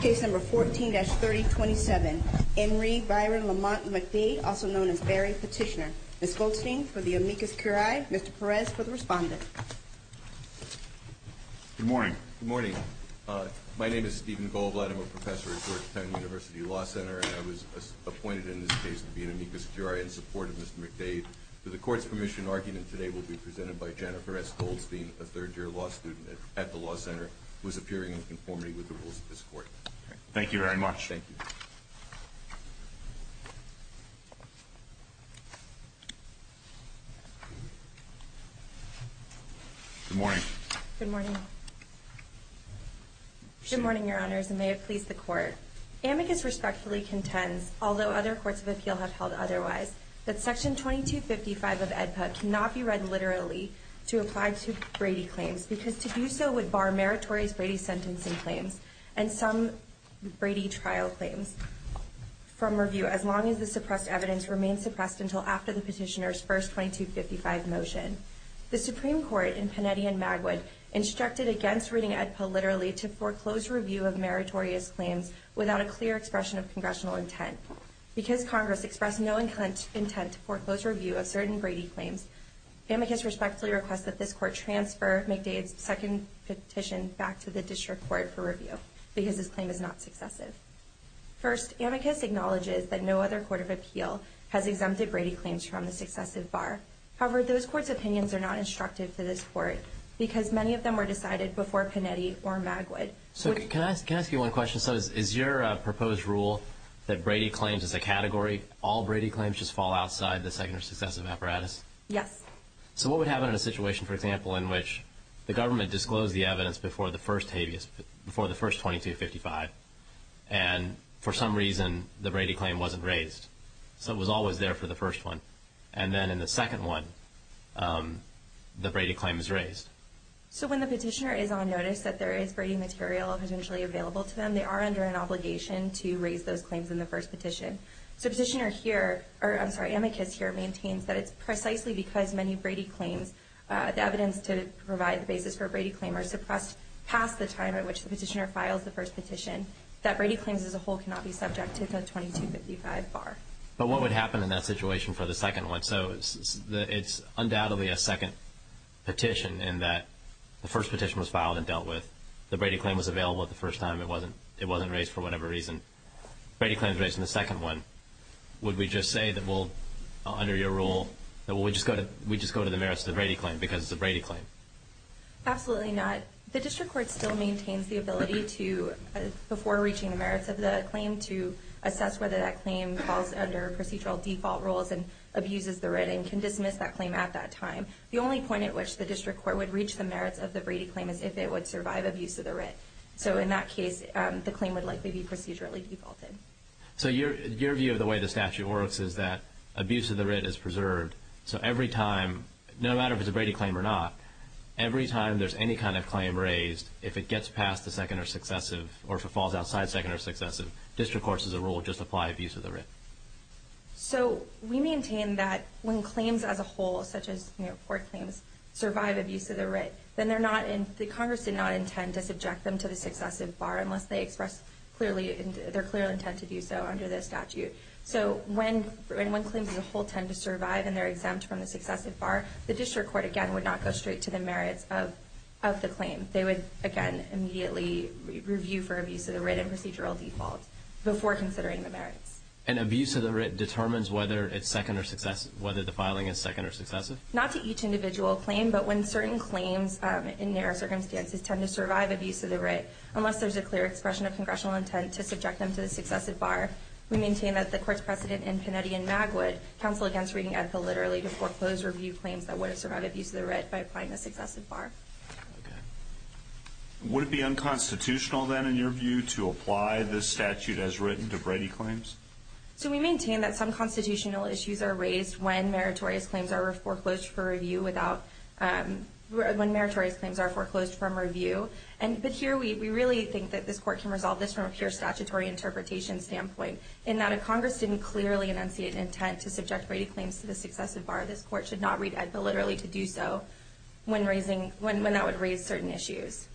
Case number 14-3027, Henry Byron Lamont McDade, also known as Barry Petitioner. Ms. Goldstein for the amicus curiae, Mr. Perez for the respondent. Good morning. Good morning. My name is Stephen Goldblatt. I'm a professor at Georgetown University Law Center, and I was appointed in this case to be an amicus curiae in support of Mr. McDade. The court's permission argument today will be presented by Jennifer S. Goldstein, a third-year law student at the Law Center, who is appearing in conformity with the rules of this court. Thank you very much. Thank you. Good morning. Good morning. Good morning, Your Honors, and may it please the Court. Amicus respectfully contends, although other courts of appeal have held otherwise, that Section 2255 of AEDPA cannot be read literally to apply to Brady claims, because to do so would bar meritorious Brady sentencing claims and some Brady trial claims from review, as long as the suppressed evidence remains suppressed until after the petitioner's first 2255 motion. The Supreme Court in Panetti and Magwood instructed against reading AEDPA literally to foreclose review of meritorious claims without a clear expression of congressional intent. Because Congress expressed no intent to foreclose review of certain Brady claims, Amicus respectfully requests that this Court transfer McDade's second petition back to the District Court for review, because this claim is not successive. First, Amicus acknowledges that no other court of appeal has exempted Brady claims from the successive bar. However, those courts' opinions are not instructive to this Court, because many of them were decided before Panetti or Magwood. So can I ask you one question? So is your proposed rule that Brady claims as a category, all Brady claims just fall outside the second or successive apparatus? Yes. So what would happen in a situation, for example, in which the government disclosed the evidence before the first 2255, and for some reason the Brady claim wasn't raised? So it was always there for the first one. And then in the second one, the Brady claim is raised. So when the petitioner is on notice that there is Brady material eventually available to them, they are under an obligation to raise those claims in the first petition. So petitioner here or, I'm sorry, Amicus here maintains that it's precisely because many Brady claims, the evidence to provide the basis for a Brady claim, are suppressed past the time at which the petitioner files the first petition, that Brady claims as a whole cannot be subject to the 2255 bar. But what would happen in that situation for the second one? So it's undoubtedly a second petition in that the first petition was filed and dealt with. The Brady claim was available the first time. It wasn't raised for whatever reason. Brady claim is raised in the second one. Would we just say that we'll, under your rule, that we just go to the merits of the Brady claim because it's a Brady claim? Absolutely not. The district court still maintains the ability to, before reaching the merits of the claim, to assess whether that claim falls under procedural default rules and abuses the writ and can dismiss that claim at that time. The only point at which the district court would reach the merits of the Brady claim is if it would survive abuse of the writ. So in that case, the claim would likely be procedurally defaulted. So your view of the way the statute works is that abuse of the writ is preserved. So every time, no matter if it's a Brady claim or not, every time there's any kind of claim raised, if it gets past the second or successive or if it falls outside second or successive, district courts, as a rule, just apply abuse of the writ. So we maintain that when claims as a whole, such as court claims, survive abuse of the writ, then they're not in, the Congress did not intend to subject them to the successive bar unless they express clearly, their clear intent to do so under the statute. So when claims as a whole tend to survive and they're exempt from the successive bar, the district court, again, would not go straight to the merits of the claim. They would, again, immediately review for abuse of the writ and procedural default before considering the merits. And abuse of the writ determines whether it's second or successive, whether the filing is second or successive? Not to each individual claim, but when certain claims in their circumstances tend to survive abuse of the writ, unless there's a clear expression of congressional intent to subject them to the successive bar, we maintain that the court's precedent in Pinetti and Magwood, counsel against reading ethical literally to foreclose review claims that would have survived abuse of the writ by applying the successive bar. Okay. Would it be unconstitutional, then, in your view, to apply this statute as written to Brady claims? So we maintain that some constitutional issues are raised when meritorious claims are foreclosed for review without, when meritorious claims are foreclosed from review. But here we really think that this court can resolve this from a pure statutory interpretation standpoint, in that if Congress didn't clearly enunciate an intent to subject Brady claims to the successive bar, this court should not read ethical literally to do so when that would raise certain issues.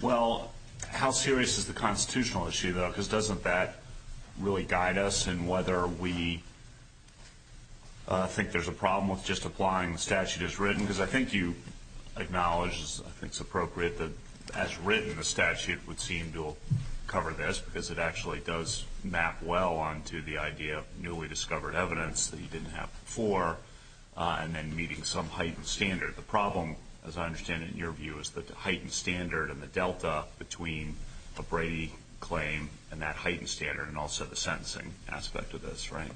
Well, how serious is the constitutional issue, though? Because doesn't that really guide us in whether we think there's a problem with just applying the statute as written? Because I think you acknowledge, I think it's appropriate, that as written, the statute would seem to cover this because it actually does map well onto the idea of newly discovered evidence that you didn't have before and then meeting some heightened standard. The problem, as I understand it, in your view, is the heightened standard and the delta between a Brady claim and that heightened standard and also the sentencing aspect of this, right?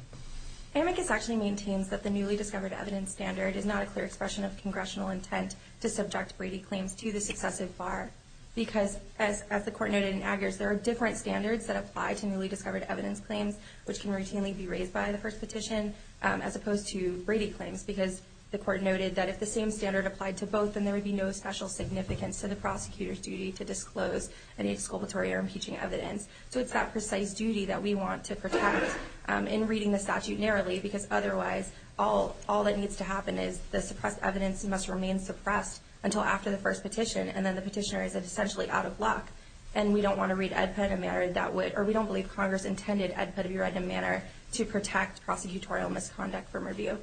Amicus actually maintains that the newly discovered evidence standard is not a clear expression of congressional intent to subject Brady claims to the successive bar. Because as the court noted in Aggers, there are different standards that apply to newly discovered evidence claims, which can routinely be raised by the first petition, as opposed to Brady claims. Because the court noted that if the same standard applied to both, then there would be no special significance to the prosecutor's duty to disclose any exculpatory or impeaching evidence. So it's that precise duty that we want to protect in reading the statute narrowly, because otherwise, all that needs to happen is the suppressed evidence must remain suppressed until after the first petition, and then the petitioner is essentially out of luck. And we don't want to read EDPA in a manner that would, or we don't believe Congress intended EDPA to be read in a manner to protect prosecutorial misconduct from review.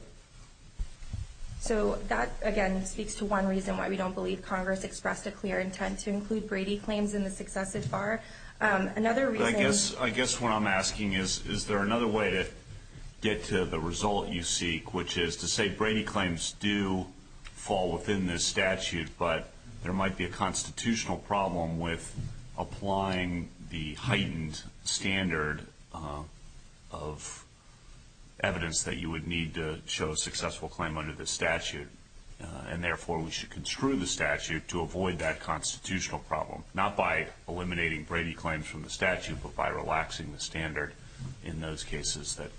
So that, again, speaks to one reason why we don't believe Congress expressed a clear intent to include Brady claims in the successive bar. Another reason. I guess what I'm asking is, is there another way to get to the result you seek, which is to say Brady claims do fall within this statute, but there might be a constitutional problem with applying the heightened standard of evidence that you would need to show a successful claim under this statute. And therefore, we should construe the statute to avoid that constitutional problem, not by eliminating Brady claims from the statute, but by relaxing the standard in those cases that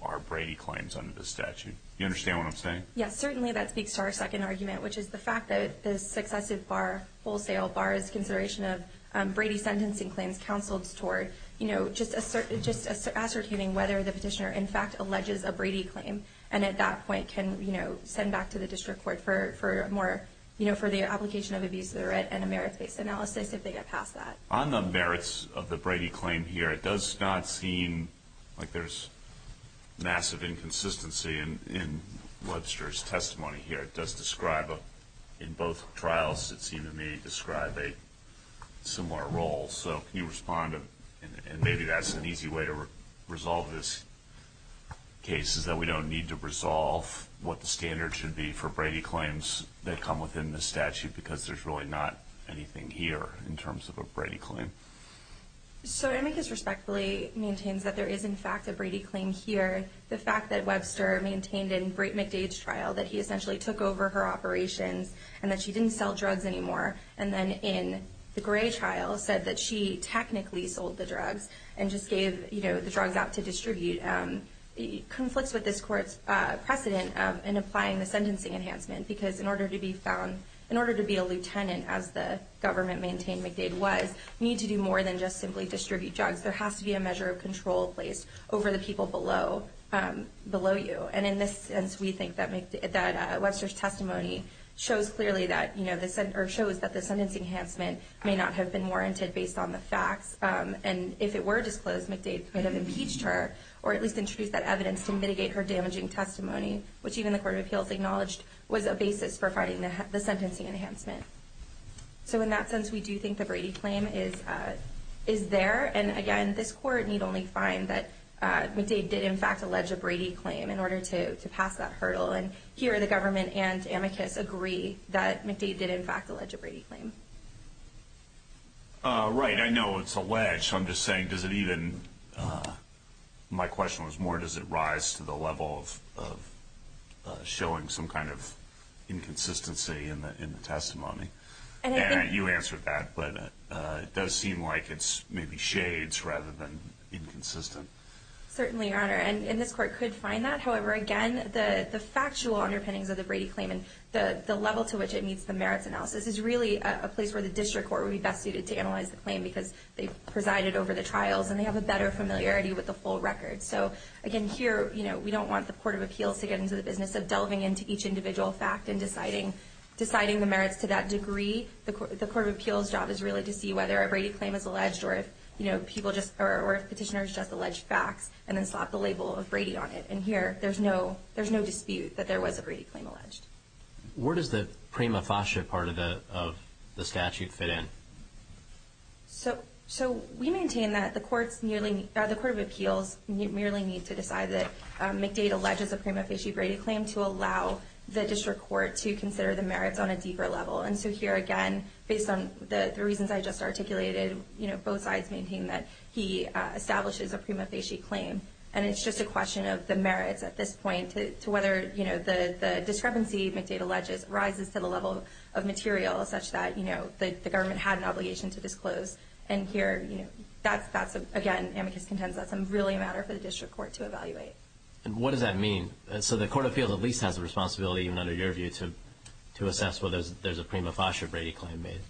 are Brady claims under the statute. Do you understand what I'm saying? Yes, certainly. That speaks to our second argument, which is the fact that the successive bar, wholesale bar, is a consideration of Brady sentencing claims counseled toward just ascertaining whether the petitioner in fact alleges a Brady claim, and at that point can, you know, send back to the district court for more, you know, for the application of abuse of the right and a merit-based analysis if they get past that. On the merits of the Brady claim here, it does not seem like there's massive inconsistency in Webster's testimony here. It does describe, in both trials, it seemed to me, describe a similar role. So can you respond? And maybe that's an easy way to resolve this case, is that we don't need to resolve what the standard should be for Brady claims that come within the statute, because there's really not anything here in terms of a Brady claim. So Amicus respectfully maintains that there is, in fact, a Brady claim here. The fact that Webster maintained in McDade's trial that he essentially took over her operations and that she didn't sell drugs anymore, and then in the Gray trial said that she technically sold the drugs and just gave, you know, the drugs out to distribute, conflicts with this court's precedent in applying the sentencing enhancement, because in order to be found, in order to be a lieutenant, as the government maintained McDade was, you need to do more than just simply distribute drugs. There has to be a measure of control placed over the people below you. And in this sense, we think that Webster's testimony shows clearly that, you know, or shows that the sentencing enhancement may not have been warranted based on the facts. And if it were disclosed, McDade could have impeached her, or at least introduced that evidence to mitigate her damaging testimony, which even the Court of Appeals acknowledged was a basis for finding the sentencing enhancement. So in that sense, we do think the Brady claim is there. And again, this court need only find that McDade did, in fact, allege a Brady claim in order to pass that hurdle. And here the government and amicus agree that McDade did, in fact, allege a Brady claim. Right. I know it's alleged. I'm just saying, does it even, my question was more, does it rise to the level of showing some kind of inconsistency in the testimony? And you answered that, but it does seem like it's maybe shades rather than inconsistent. Certainly, Your Honor, and this court could find that. However, again, the factual underpinnings of the Brady claim and the level to which it meets the merits analysis is really a place where the district court would be best suited to analyze the claim because they presided over the trials and they have a better familiarity with the full record. So again, here, you know, we don't want the Court of Appeals to get into the business of delving into each individual fact and deciding the merits to that degree. The Court of Appeals job is really to see whether a Brady claim is alleged or if people just, or if petitioners just allege facts and then slap the label of Brady on it. And here, there's no dispute that there was a Brady claim alleged. Where does the prima facie part of the statute fit in? So we maintain that the Court of Appeals merely need to decide that McDade alleges a prima facie Brady claim to allow the district court to consider the merits on a deeper level. And so here, again, based on the reasons I just articulated, you know, both sides maintain that he establishes a prima facie claim. And it's just a question of the merits at this point to whether, you know, the discrepancy McDade alleges rises to the level of material such that, you know, the government had an obligation to disclose. And here, you know, that's, again, amicus contensus. And what does that mean? So the Court of Appeals at least has the responsibility, even under your view, to assess whether there's a prima facie Brady claim made.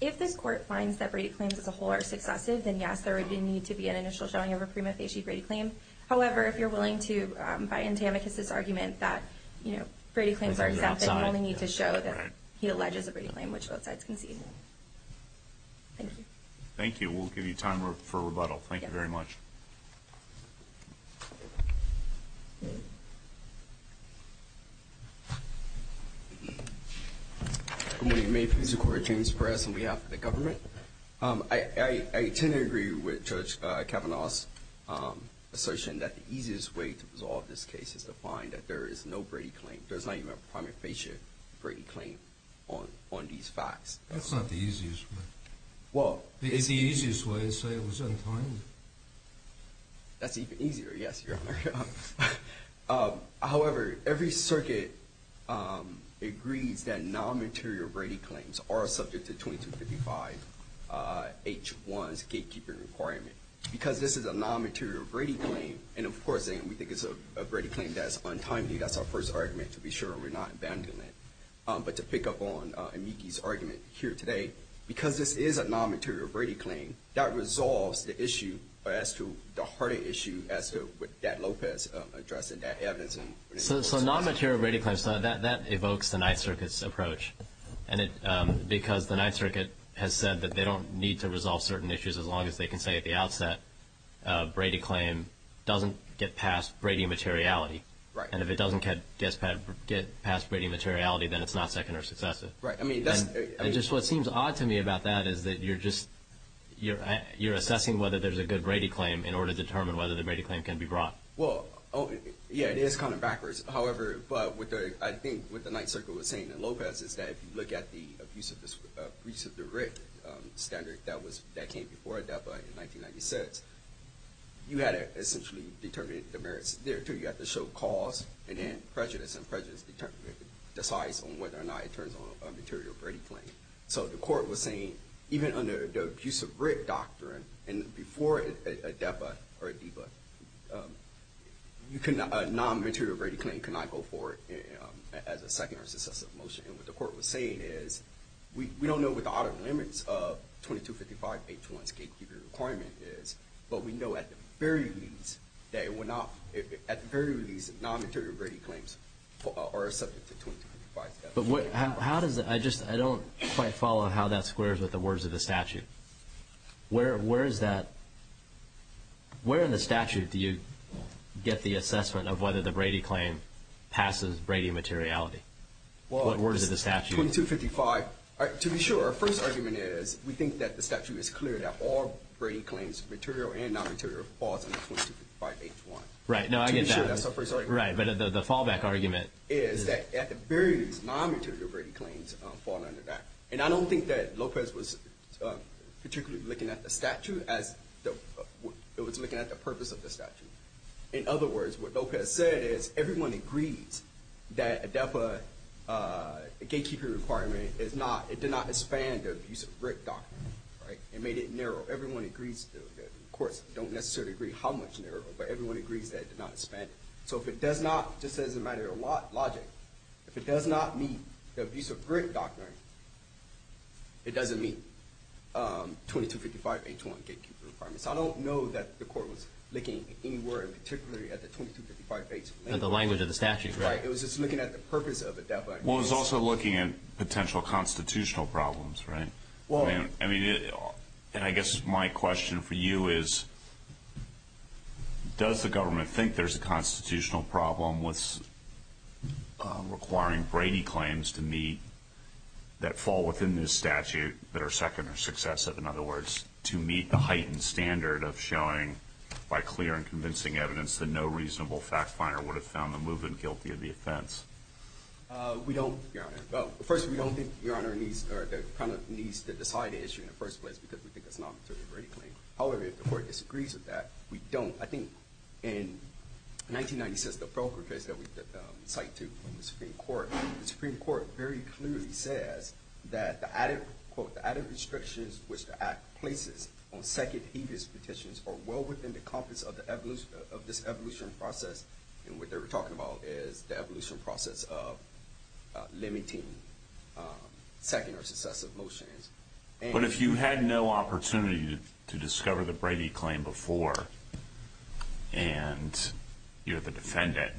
If this court finds that Brady claims as a whole are successive, then yes, there would need to be an initial showing of a prima facie Brady claim. However, if you're willing to buy into amicus' argument that, you know, Brady claims are accepted, you only need to show that he alleges a Brady claim, which both sides concede. Thank you. Thank you. We'll give you time for rebuttal. Thank you very much. Thank you. Good morning. May it please the Court. James Perez on behalf of the government. I tend to agree with Judge Kavanaugh's assertion that the easiest way to resolve this case is to find that there is no Brady claim. There's not even a prima facie Brady claim on these facts. That's not the easiest way. Well, it is the easiest way, so it was untimely. That's even easier, yes, Your Honor. However, every circuit agrees that non-material Brady claims are subject to 2255H1's gatekeeping requirement. Because this is a non-material Brady claim, and, of course, we think it's a Brady claim that's untimely. That's our first argument to be sure. We're not abandoning it. But to pick up on Amiki's argument here today, because this is a non-material Brady claim, that resolves the issue as to the harder issue as to what Dat Lopez addressed in that evidence. So non-material Brady claims, that evokes the Ninth Circuit's approach, because the Ninth Circuit has said that they don't need to resolve certain issues as long as they can say at the outset, Brady claim doesn't get past Brady materiality. Right. And if it doesn't get past Brady materiality, then it's not second or successive. Right. And just what seems odd to me about that is that you're assessing whether there's a good Brady claim in order to determine whether the Brady claim can be brought. Well, yeah, it is kind of backwards. However, I think what the Ninth Circuit was saying in Lopez is that if you look at the abuse of the writ standard that came before ADEPA in 1996, you had to essentially determine the merits there, too. You have to show cause and prejudice, and prejudice decides on whether or not it turns on a material Brady claim. So the court was saying, even under the abuse of writ doctrine, and before ADEPA or ADEPA, a non-material Brady claim cannot go forward as a second or successive motion. And what the court was saying is we don't know what the audit limits of 2255H1's gatekeeper requirement is, but we know at the very least that non-material Brady claims are subject to 2255 statute. I just don't quite follow how that squares with the words of the statute. Where in the statute do you get the assessment of whether the Brady claim passes Brady materiality? What words of the statute? Well, 2255, to be sure, our first argument is we think that the statute is clear that all Brady claims, material and non-material, falls under 2255H1. Right, no, I get that. To be sure, that's our first argument. Right, but the fallback argument is that at the very least, non-material Brady claims fall under that. And I don't think that Lopez was particularly looking at the statute as it was looking at the purpose of the statute. In other words, what Lopez said is everyone agrees that ADEPA gatekeeper requirement is not, it did not expand the abuse of grit doctrine. Right, it made it narrow. Everyone agrees, the courts don't necessarily agree how much narrow, but everyone agrees that it did not expand it. So if it does not, just as a matter of logic, if it does not meet the abuse of grit doctrine, it doesn't meet 2255H1 gatekeeper requirement. So I don't know that the court was looking anywhere in particular at the 2255H1 language. At the language of the statute, right. Right, it was just looking at the purpose of ADEPA. Well, it was also looking at potential constitutional problems, right? I mean, and I guess my question for you is does the government think there's a constitutional problem with requiring Brady claims to meet that fall within this statute that are second or successive? In other words, to meet the heightened standard of showing by clear and convincing evidence that no reasonable fact finder would have found the movement guilty of the offense. We don't, Your Honor. Well, first, we don't think Your Honor needs to decide the issue in the first place because we think it's not a Brady claim. However, if the court disagrees with that, we don't. I think in 1996, the provocation that we cite to the Supreme Court, the Supreme Court very clearly says that the added, quote, the added restrictions which the Act places on second-heaviest petitions are well within the compass of this evolution process. And what they were talking about is the evolution process of limiting second or successive motions. But if you had no opportunity to discover the Brady claim before and you're the defendant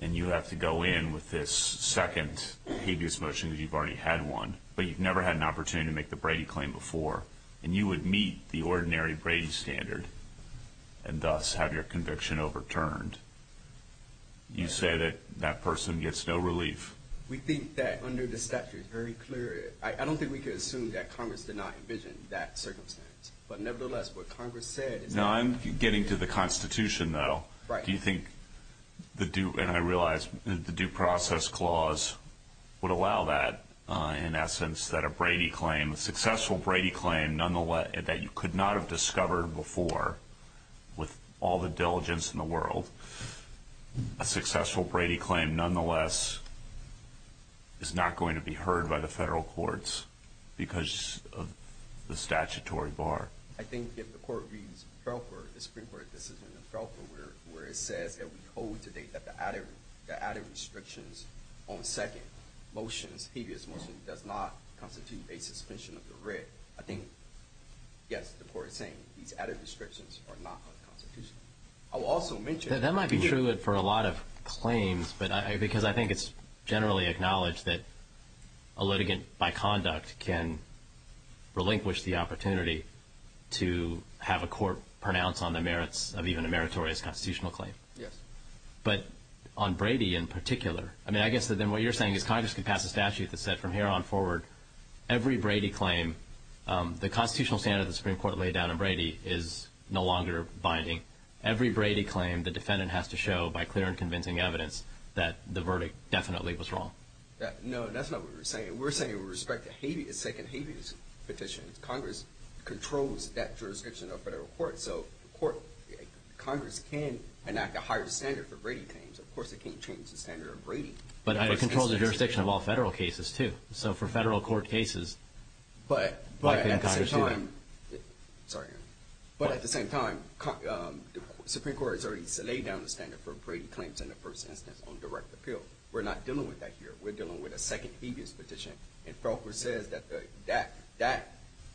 and you have to go in with this second-heaviest motion because you've already had one, but you've never had an opportunity to make the Brady claim before, and you would meet the ordinary Brady standard and thus have your conviction overturned, you say that that person gets no relief? We think that under the statute, very clearly. I don't think we can assume that Congress did not envision that circumstance. But nevertheless, what Congress said is that... Now, I'm getting to the Constitution, though. Do you think the due process clause would allow that, in essence, that a Brady claim, a successful Brady claim that you could not have discovered before with all the diligence in the world, a successful Brady claim, nonetheless, is not going to be heard by the federal courts because of the statutory bar? I think if the Court reads Pelfer, the Supreme Court decision in Pelfer, where it says that we hold to date that the added restrictions on second motions, heaviest motions, does not constitute a suspension of the writ, I think, yes, the Court is saying these added restrictions are not unconstitutional. I will also mention... That might be true for a lot of claims because I think it's generally acknowledged that a litigant by conduct can relinquish the opportunity to have a court pronounce on the merits of even a meritorious constitutional claim. Yes. But on Brady in particular, I mean, I guess then what you're saying is Congress could pass a statute that said from here on forward, every Brady claim, the constitutional standard the Supreme Court laid down on Brady is no longer binding. Every Brady claim the defendant has to show by clear and convincing evidence that the verdict definitely was wrong. No, that's not what we're saying. We're saying with respect to second heaviest petitions, Congress controls that jurisdiction of federal courts. So Congress can enact a higher standard for Brady claims. Of course, it can't change the standard of Brady. But it controls the jurisdiction of all federal cases too. So for federal court cases, why couldn't Congress do that? But at the same time, Supreme Court has already laid down the standard for Brady claims in the first instance on direct appeal. We're not dealing with that here. We're dealing with a second heaviest petition. And Felker says that that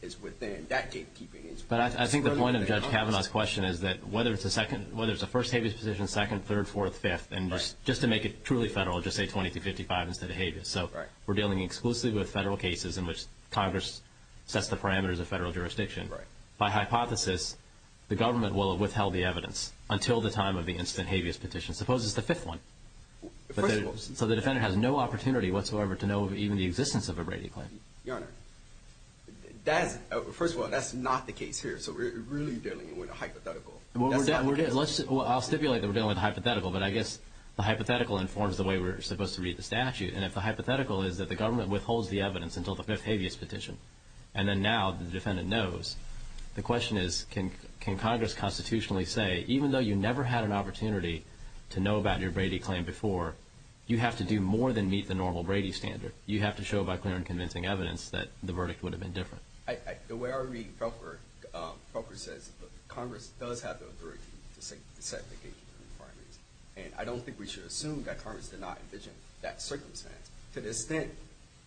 is within that gatekeeping. But I think the point of Judge Kavanaugh's question is that whether it's a first heaviest petition, second, third, fourth, fifth, and just to make it truly federal, just say 2255 instead of heaviest. So we're dealing exclusively with federal cases in which Congress sets the parameters of federal jurisdiction. By hypothesis, the government will withhold the evidence until the time of the instant heaviest petition. Suppose it's the fifth one. So the defendant has no opportunity whatsoever to know even the existence of a Brady claim. Your Honor, first of all, that's not the case here. So we're really dealing with a hypothetical. I'll stipulate that we're dealing with a hypothetical. But I guess the hypothetical informs the way we're supposed to read the statute. And if the hypothetical is that the government withholds the evidence until the fifth heaviest petition, and then now the defendant knows, the question is can Congress constitutionally say, even though you never had an opportunity to know about your Brady claim before, you have to do more than meet the normal Brady standard. You have to show by clear and convincing evidence that the verdict would have been different. The way I read Felker, Felker says Congress does have the authority to set the gatekeeping requirements. And I don't think we should assume that Congress did not envision that circumstance. To the extent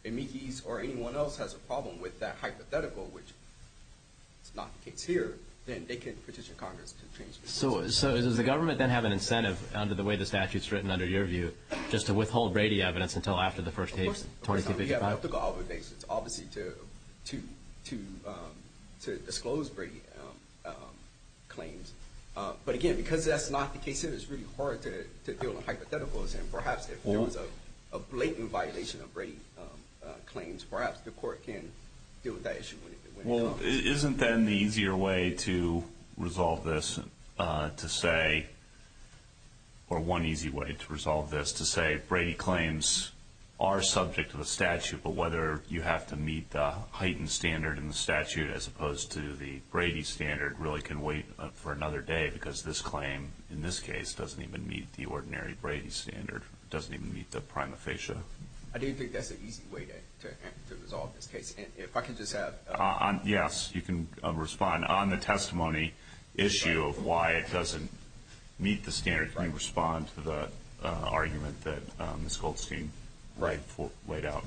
amicus or anyone else has a problem with that hypothetical, which is not the case here, then they can petition Congress to change the statute. So does the government then have an incentive under the way the statute is written, under your view, just to withhold Brady evidence until after the first heaviest, 2255? Of course not. We have ethical obligations, obviously, to disclose Brady claims. But, again, because that's not the case here, it's really hard to deal with hypotheticals. And perhaps if there was a blatant violation of Brady claims, perhaps the court can deal with that issue when it comes. Well, isn't then the easier way to resolve this to say, or one easy way to resolve this, to say Brady claims are subject to the statute, but whether you have to meet the heightened standard in the statute as opposed to the Brady standard really can wait for another day because this claim, in this case, doesn't even meet the ordinary Brady standard. It doesn't even meet the prima facie. I do think that's an easy way to resolve this case. And if I could just have ---- Yes, you can respond. On the testimony issue of why it doesn't meet the standard, can you respond to the argument that Ms. Goldstein laid out?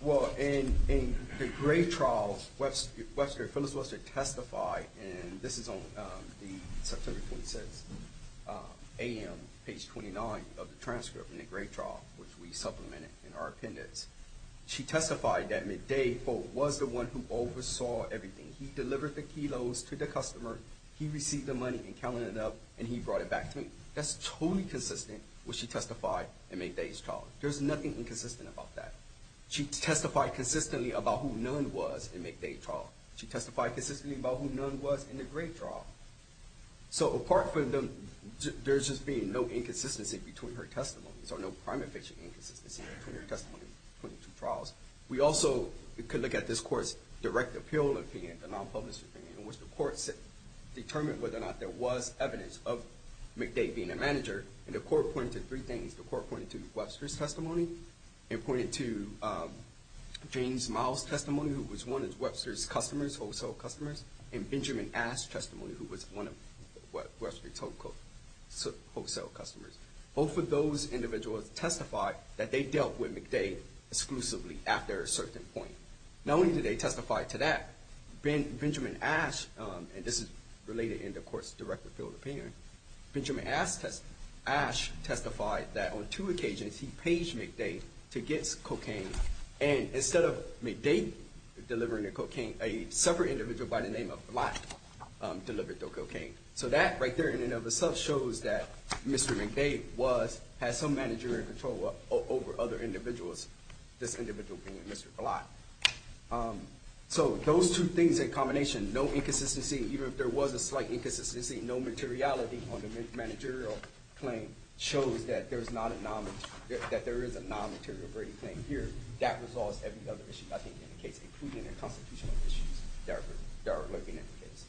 Well, in the Gray trial, Phyllis Webster testified, and this is on the September 26th, a.m., page 29 of the transcript in the Gray trial, which we supplemented in our appendix. She testified that McDade, quote, was the one who oversaw everything. He delivered the kilos to the customer. He received the money and counted it up, and he brought it back to me. That's totally consistent with what she testified in McDade's trial. There's nothing inconsistent about that. She testified consistently about who Nunn was in McDade's trial. She testified consistently about who Nunn was in the Gray trial. So apart from there just being no inconsistency between her testimonies or no prima facie inconsistency between her testimony in the two trials, we also could look at this Court's direct appeal opinion, the non-public opinion, in which the Court determined whether or not there was evidence of McDade being a manager, and the Court pointed to three things. The Court pointed to Webster's testimony. It pointed to James Miles' testimony, who was one of Webster's customers, wholesale customers, and Benjamin Ash's testimony, who was one of Webster's wholesale customers. Both of those individuals testified that they dealt with McDade exclusively after a certain point. Not only did they testify to that, Benjamin Ash, and this is related in the Court's direct appeal opinion, Benjamin Ash testified that on two occasions he paged McDade to get cocaine, and instead of McDade delivering the cocaine, a separate individual by the name of Blott delivered the cocaine. So that right there in and of itself shows that Mr. McDade had some managerial control over other individuals, this individual being Mr. Blott. So those two things in combination, no inconsistency, even if there was a slight inconsistency, no materiality on the managerial claim shows that there is a non-material grade claim here. That resolves every other issue I think in the case, including the constitutional issues that are lurking in the case.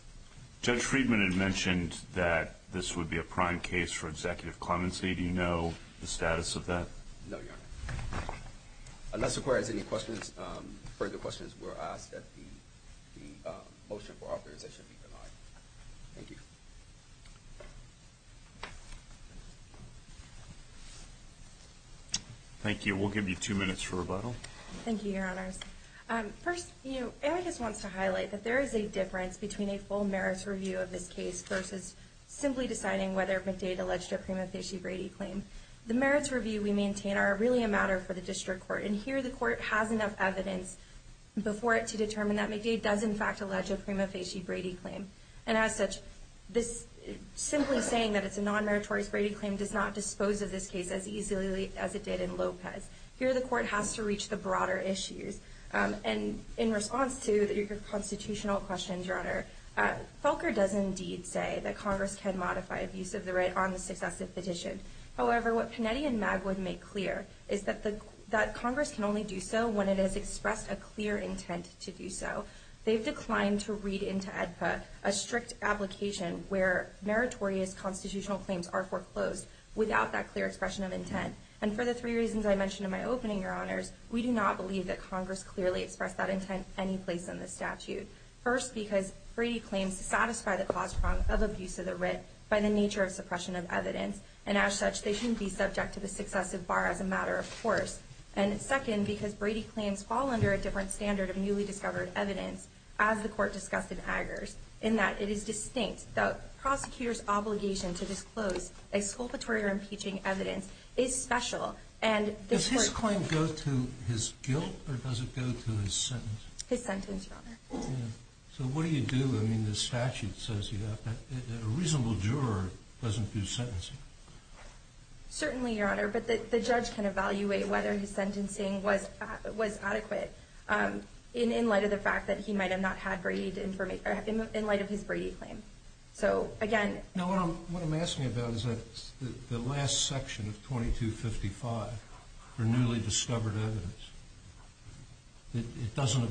Judge Friedman had mentioned that this would be a prime case for Executive Clemency. Do you know the status of that? No, Your Honor. Unless the Court has any questions, further questions, we're asked that the motion for authorization be denied. Thank you. Thank you. We'll give you two minutes for rebuttal. Thank you, Your Honors. First, Amy just wants to highlight that there is a difference between a full merits review of this case versus simply deciding whether McDade alleged a prima facie Brady claim. The merits review we maintain are really a matter for the District Court, and here the Court has enough evidence before it to determine that McDade does in fact allege a prima facie Brady claim. And as such, simply saying that it's a non-meritorious Brady claim does not dispose of this case as easily as it did in Lopez. Here the Court has to reach the broader issues. And in response to your constitutional questions, Your Honor, Felker does indeed say that Congress can modify abuse of the right on the successive petition. However, what Panetti and Magwood make clear is that Congress can only do so when it has expressed a clear intent to do so. They've declined to read into AEDPA a strict application where meritorious constitutional claims are foreclosed without that clear expression of intent. And for the three reasons I mentioned in my opening, Your Honors, we do not believe that Congress clearly expressed that intent any place in the statute. First, because Brady claims to satisfy the cause of abuse of the writ by the nature of suppression of evidence. And as such, they shouldn't be subject to the successive bar as a matter of course. And second, because Brady claims fall under a different standard of newly discovered evidence, as the Court discussed in Eggers, in that it is distinct. The prosecutor's obligation to disclose exculpatory or impeaching evidence is special. Does his claim go to his guilt or does it go to his sentence? His sentence, Your Honor. So what do you do? I mean, the statute says that a reasonable juror doesn't do sentencing. Certainly, Your Honor, but the judge can evaluate whether his sentencing was adequate in light of the fact that he might have not had Brady information, in light of his Brady claim. So, again... No, what I'm asking about is that the last section of 2255 for newly discovered evidence, it doesn't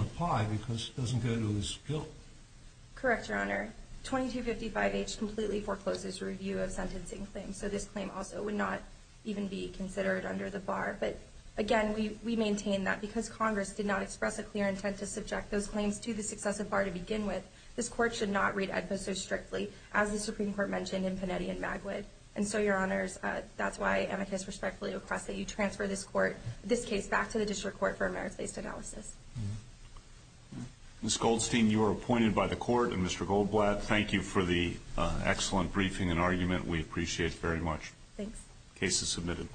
apply because it doesn't go to his guilt. Correct, Your Honor. 2255H completely forecloses review of sentencing claims, so this claim also would not even be considered under the bar. But, again, we maintain that because Congress did not express a clear intent to subject those claims to the successive bar to begin with, this Court should not read AEDPA so strictly, as the Supreme Court mentioned in Panetti and Magwood. And so, Your Honors, that's why amicus respectfully requests that you transfer this Court, this case, back to the District Court for a merits-based analysis. Ms. Goldstein, you are appointed by the Court. And, Mr. Goldblatt, thank you for the excellent briefing and argument. We appreciate it very much. Thanks. Case is submitted.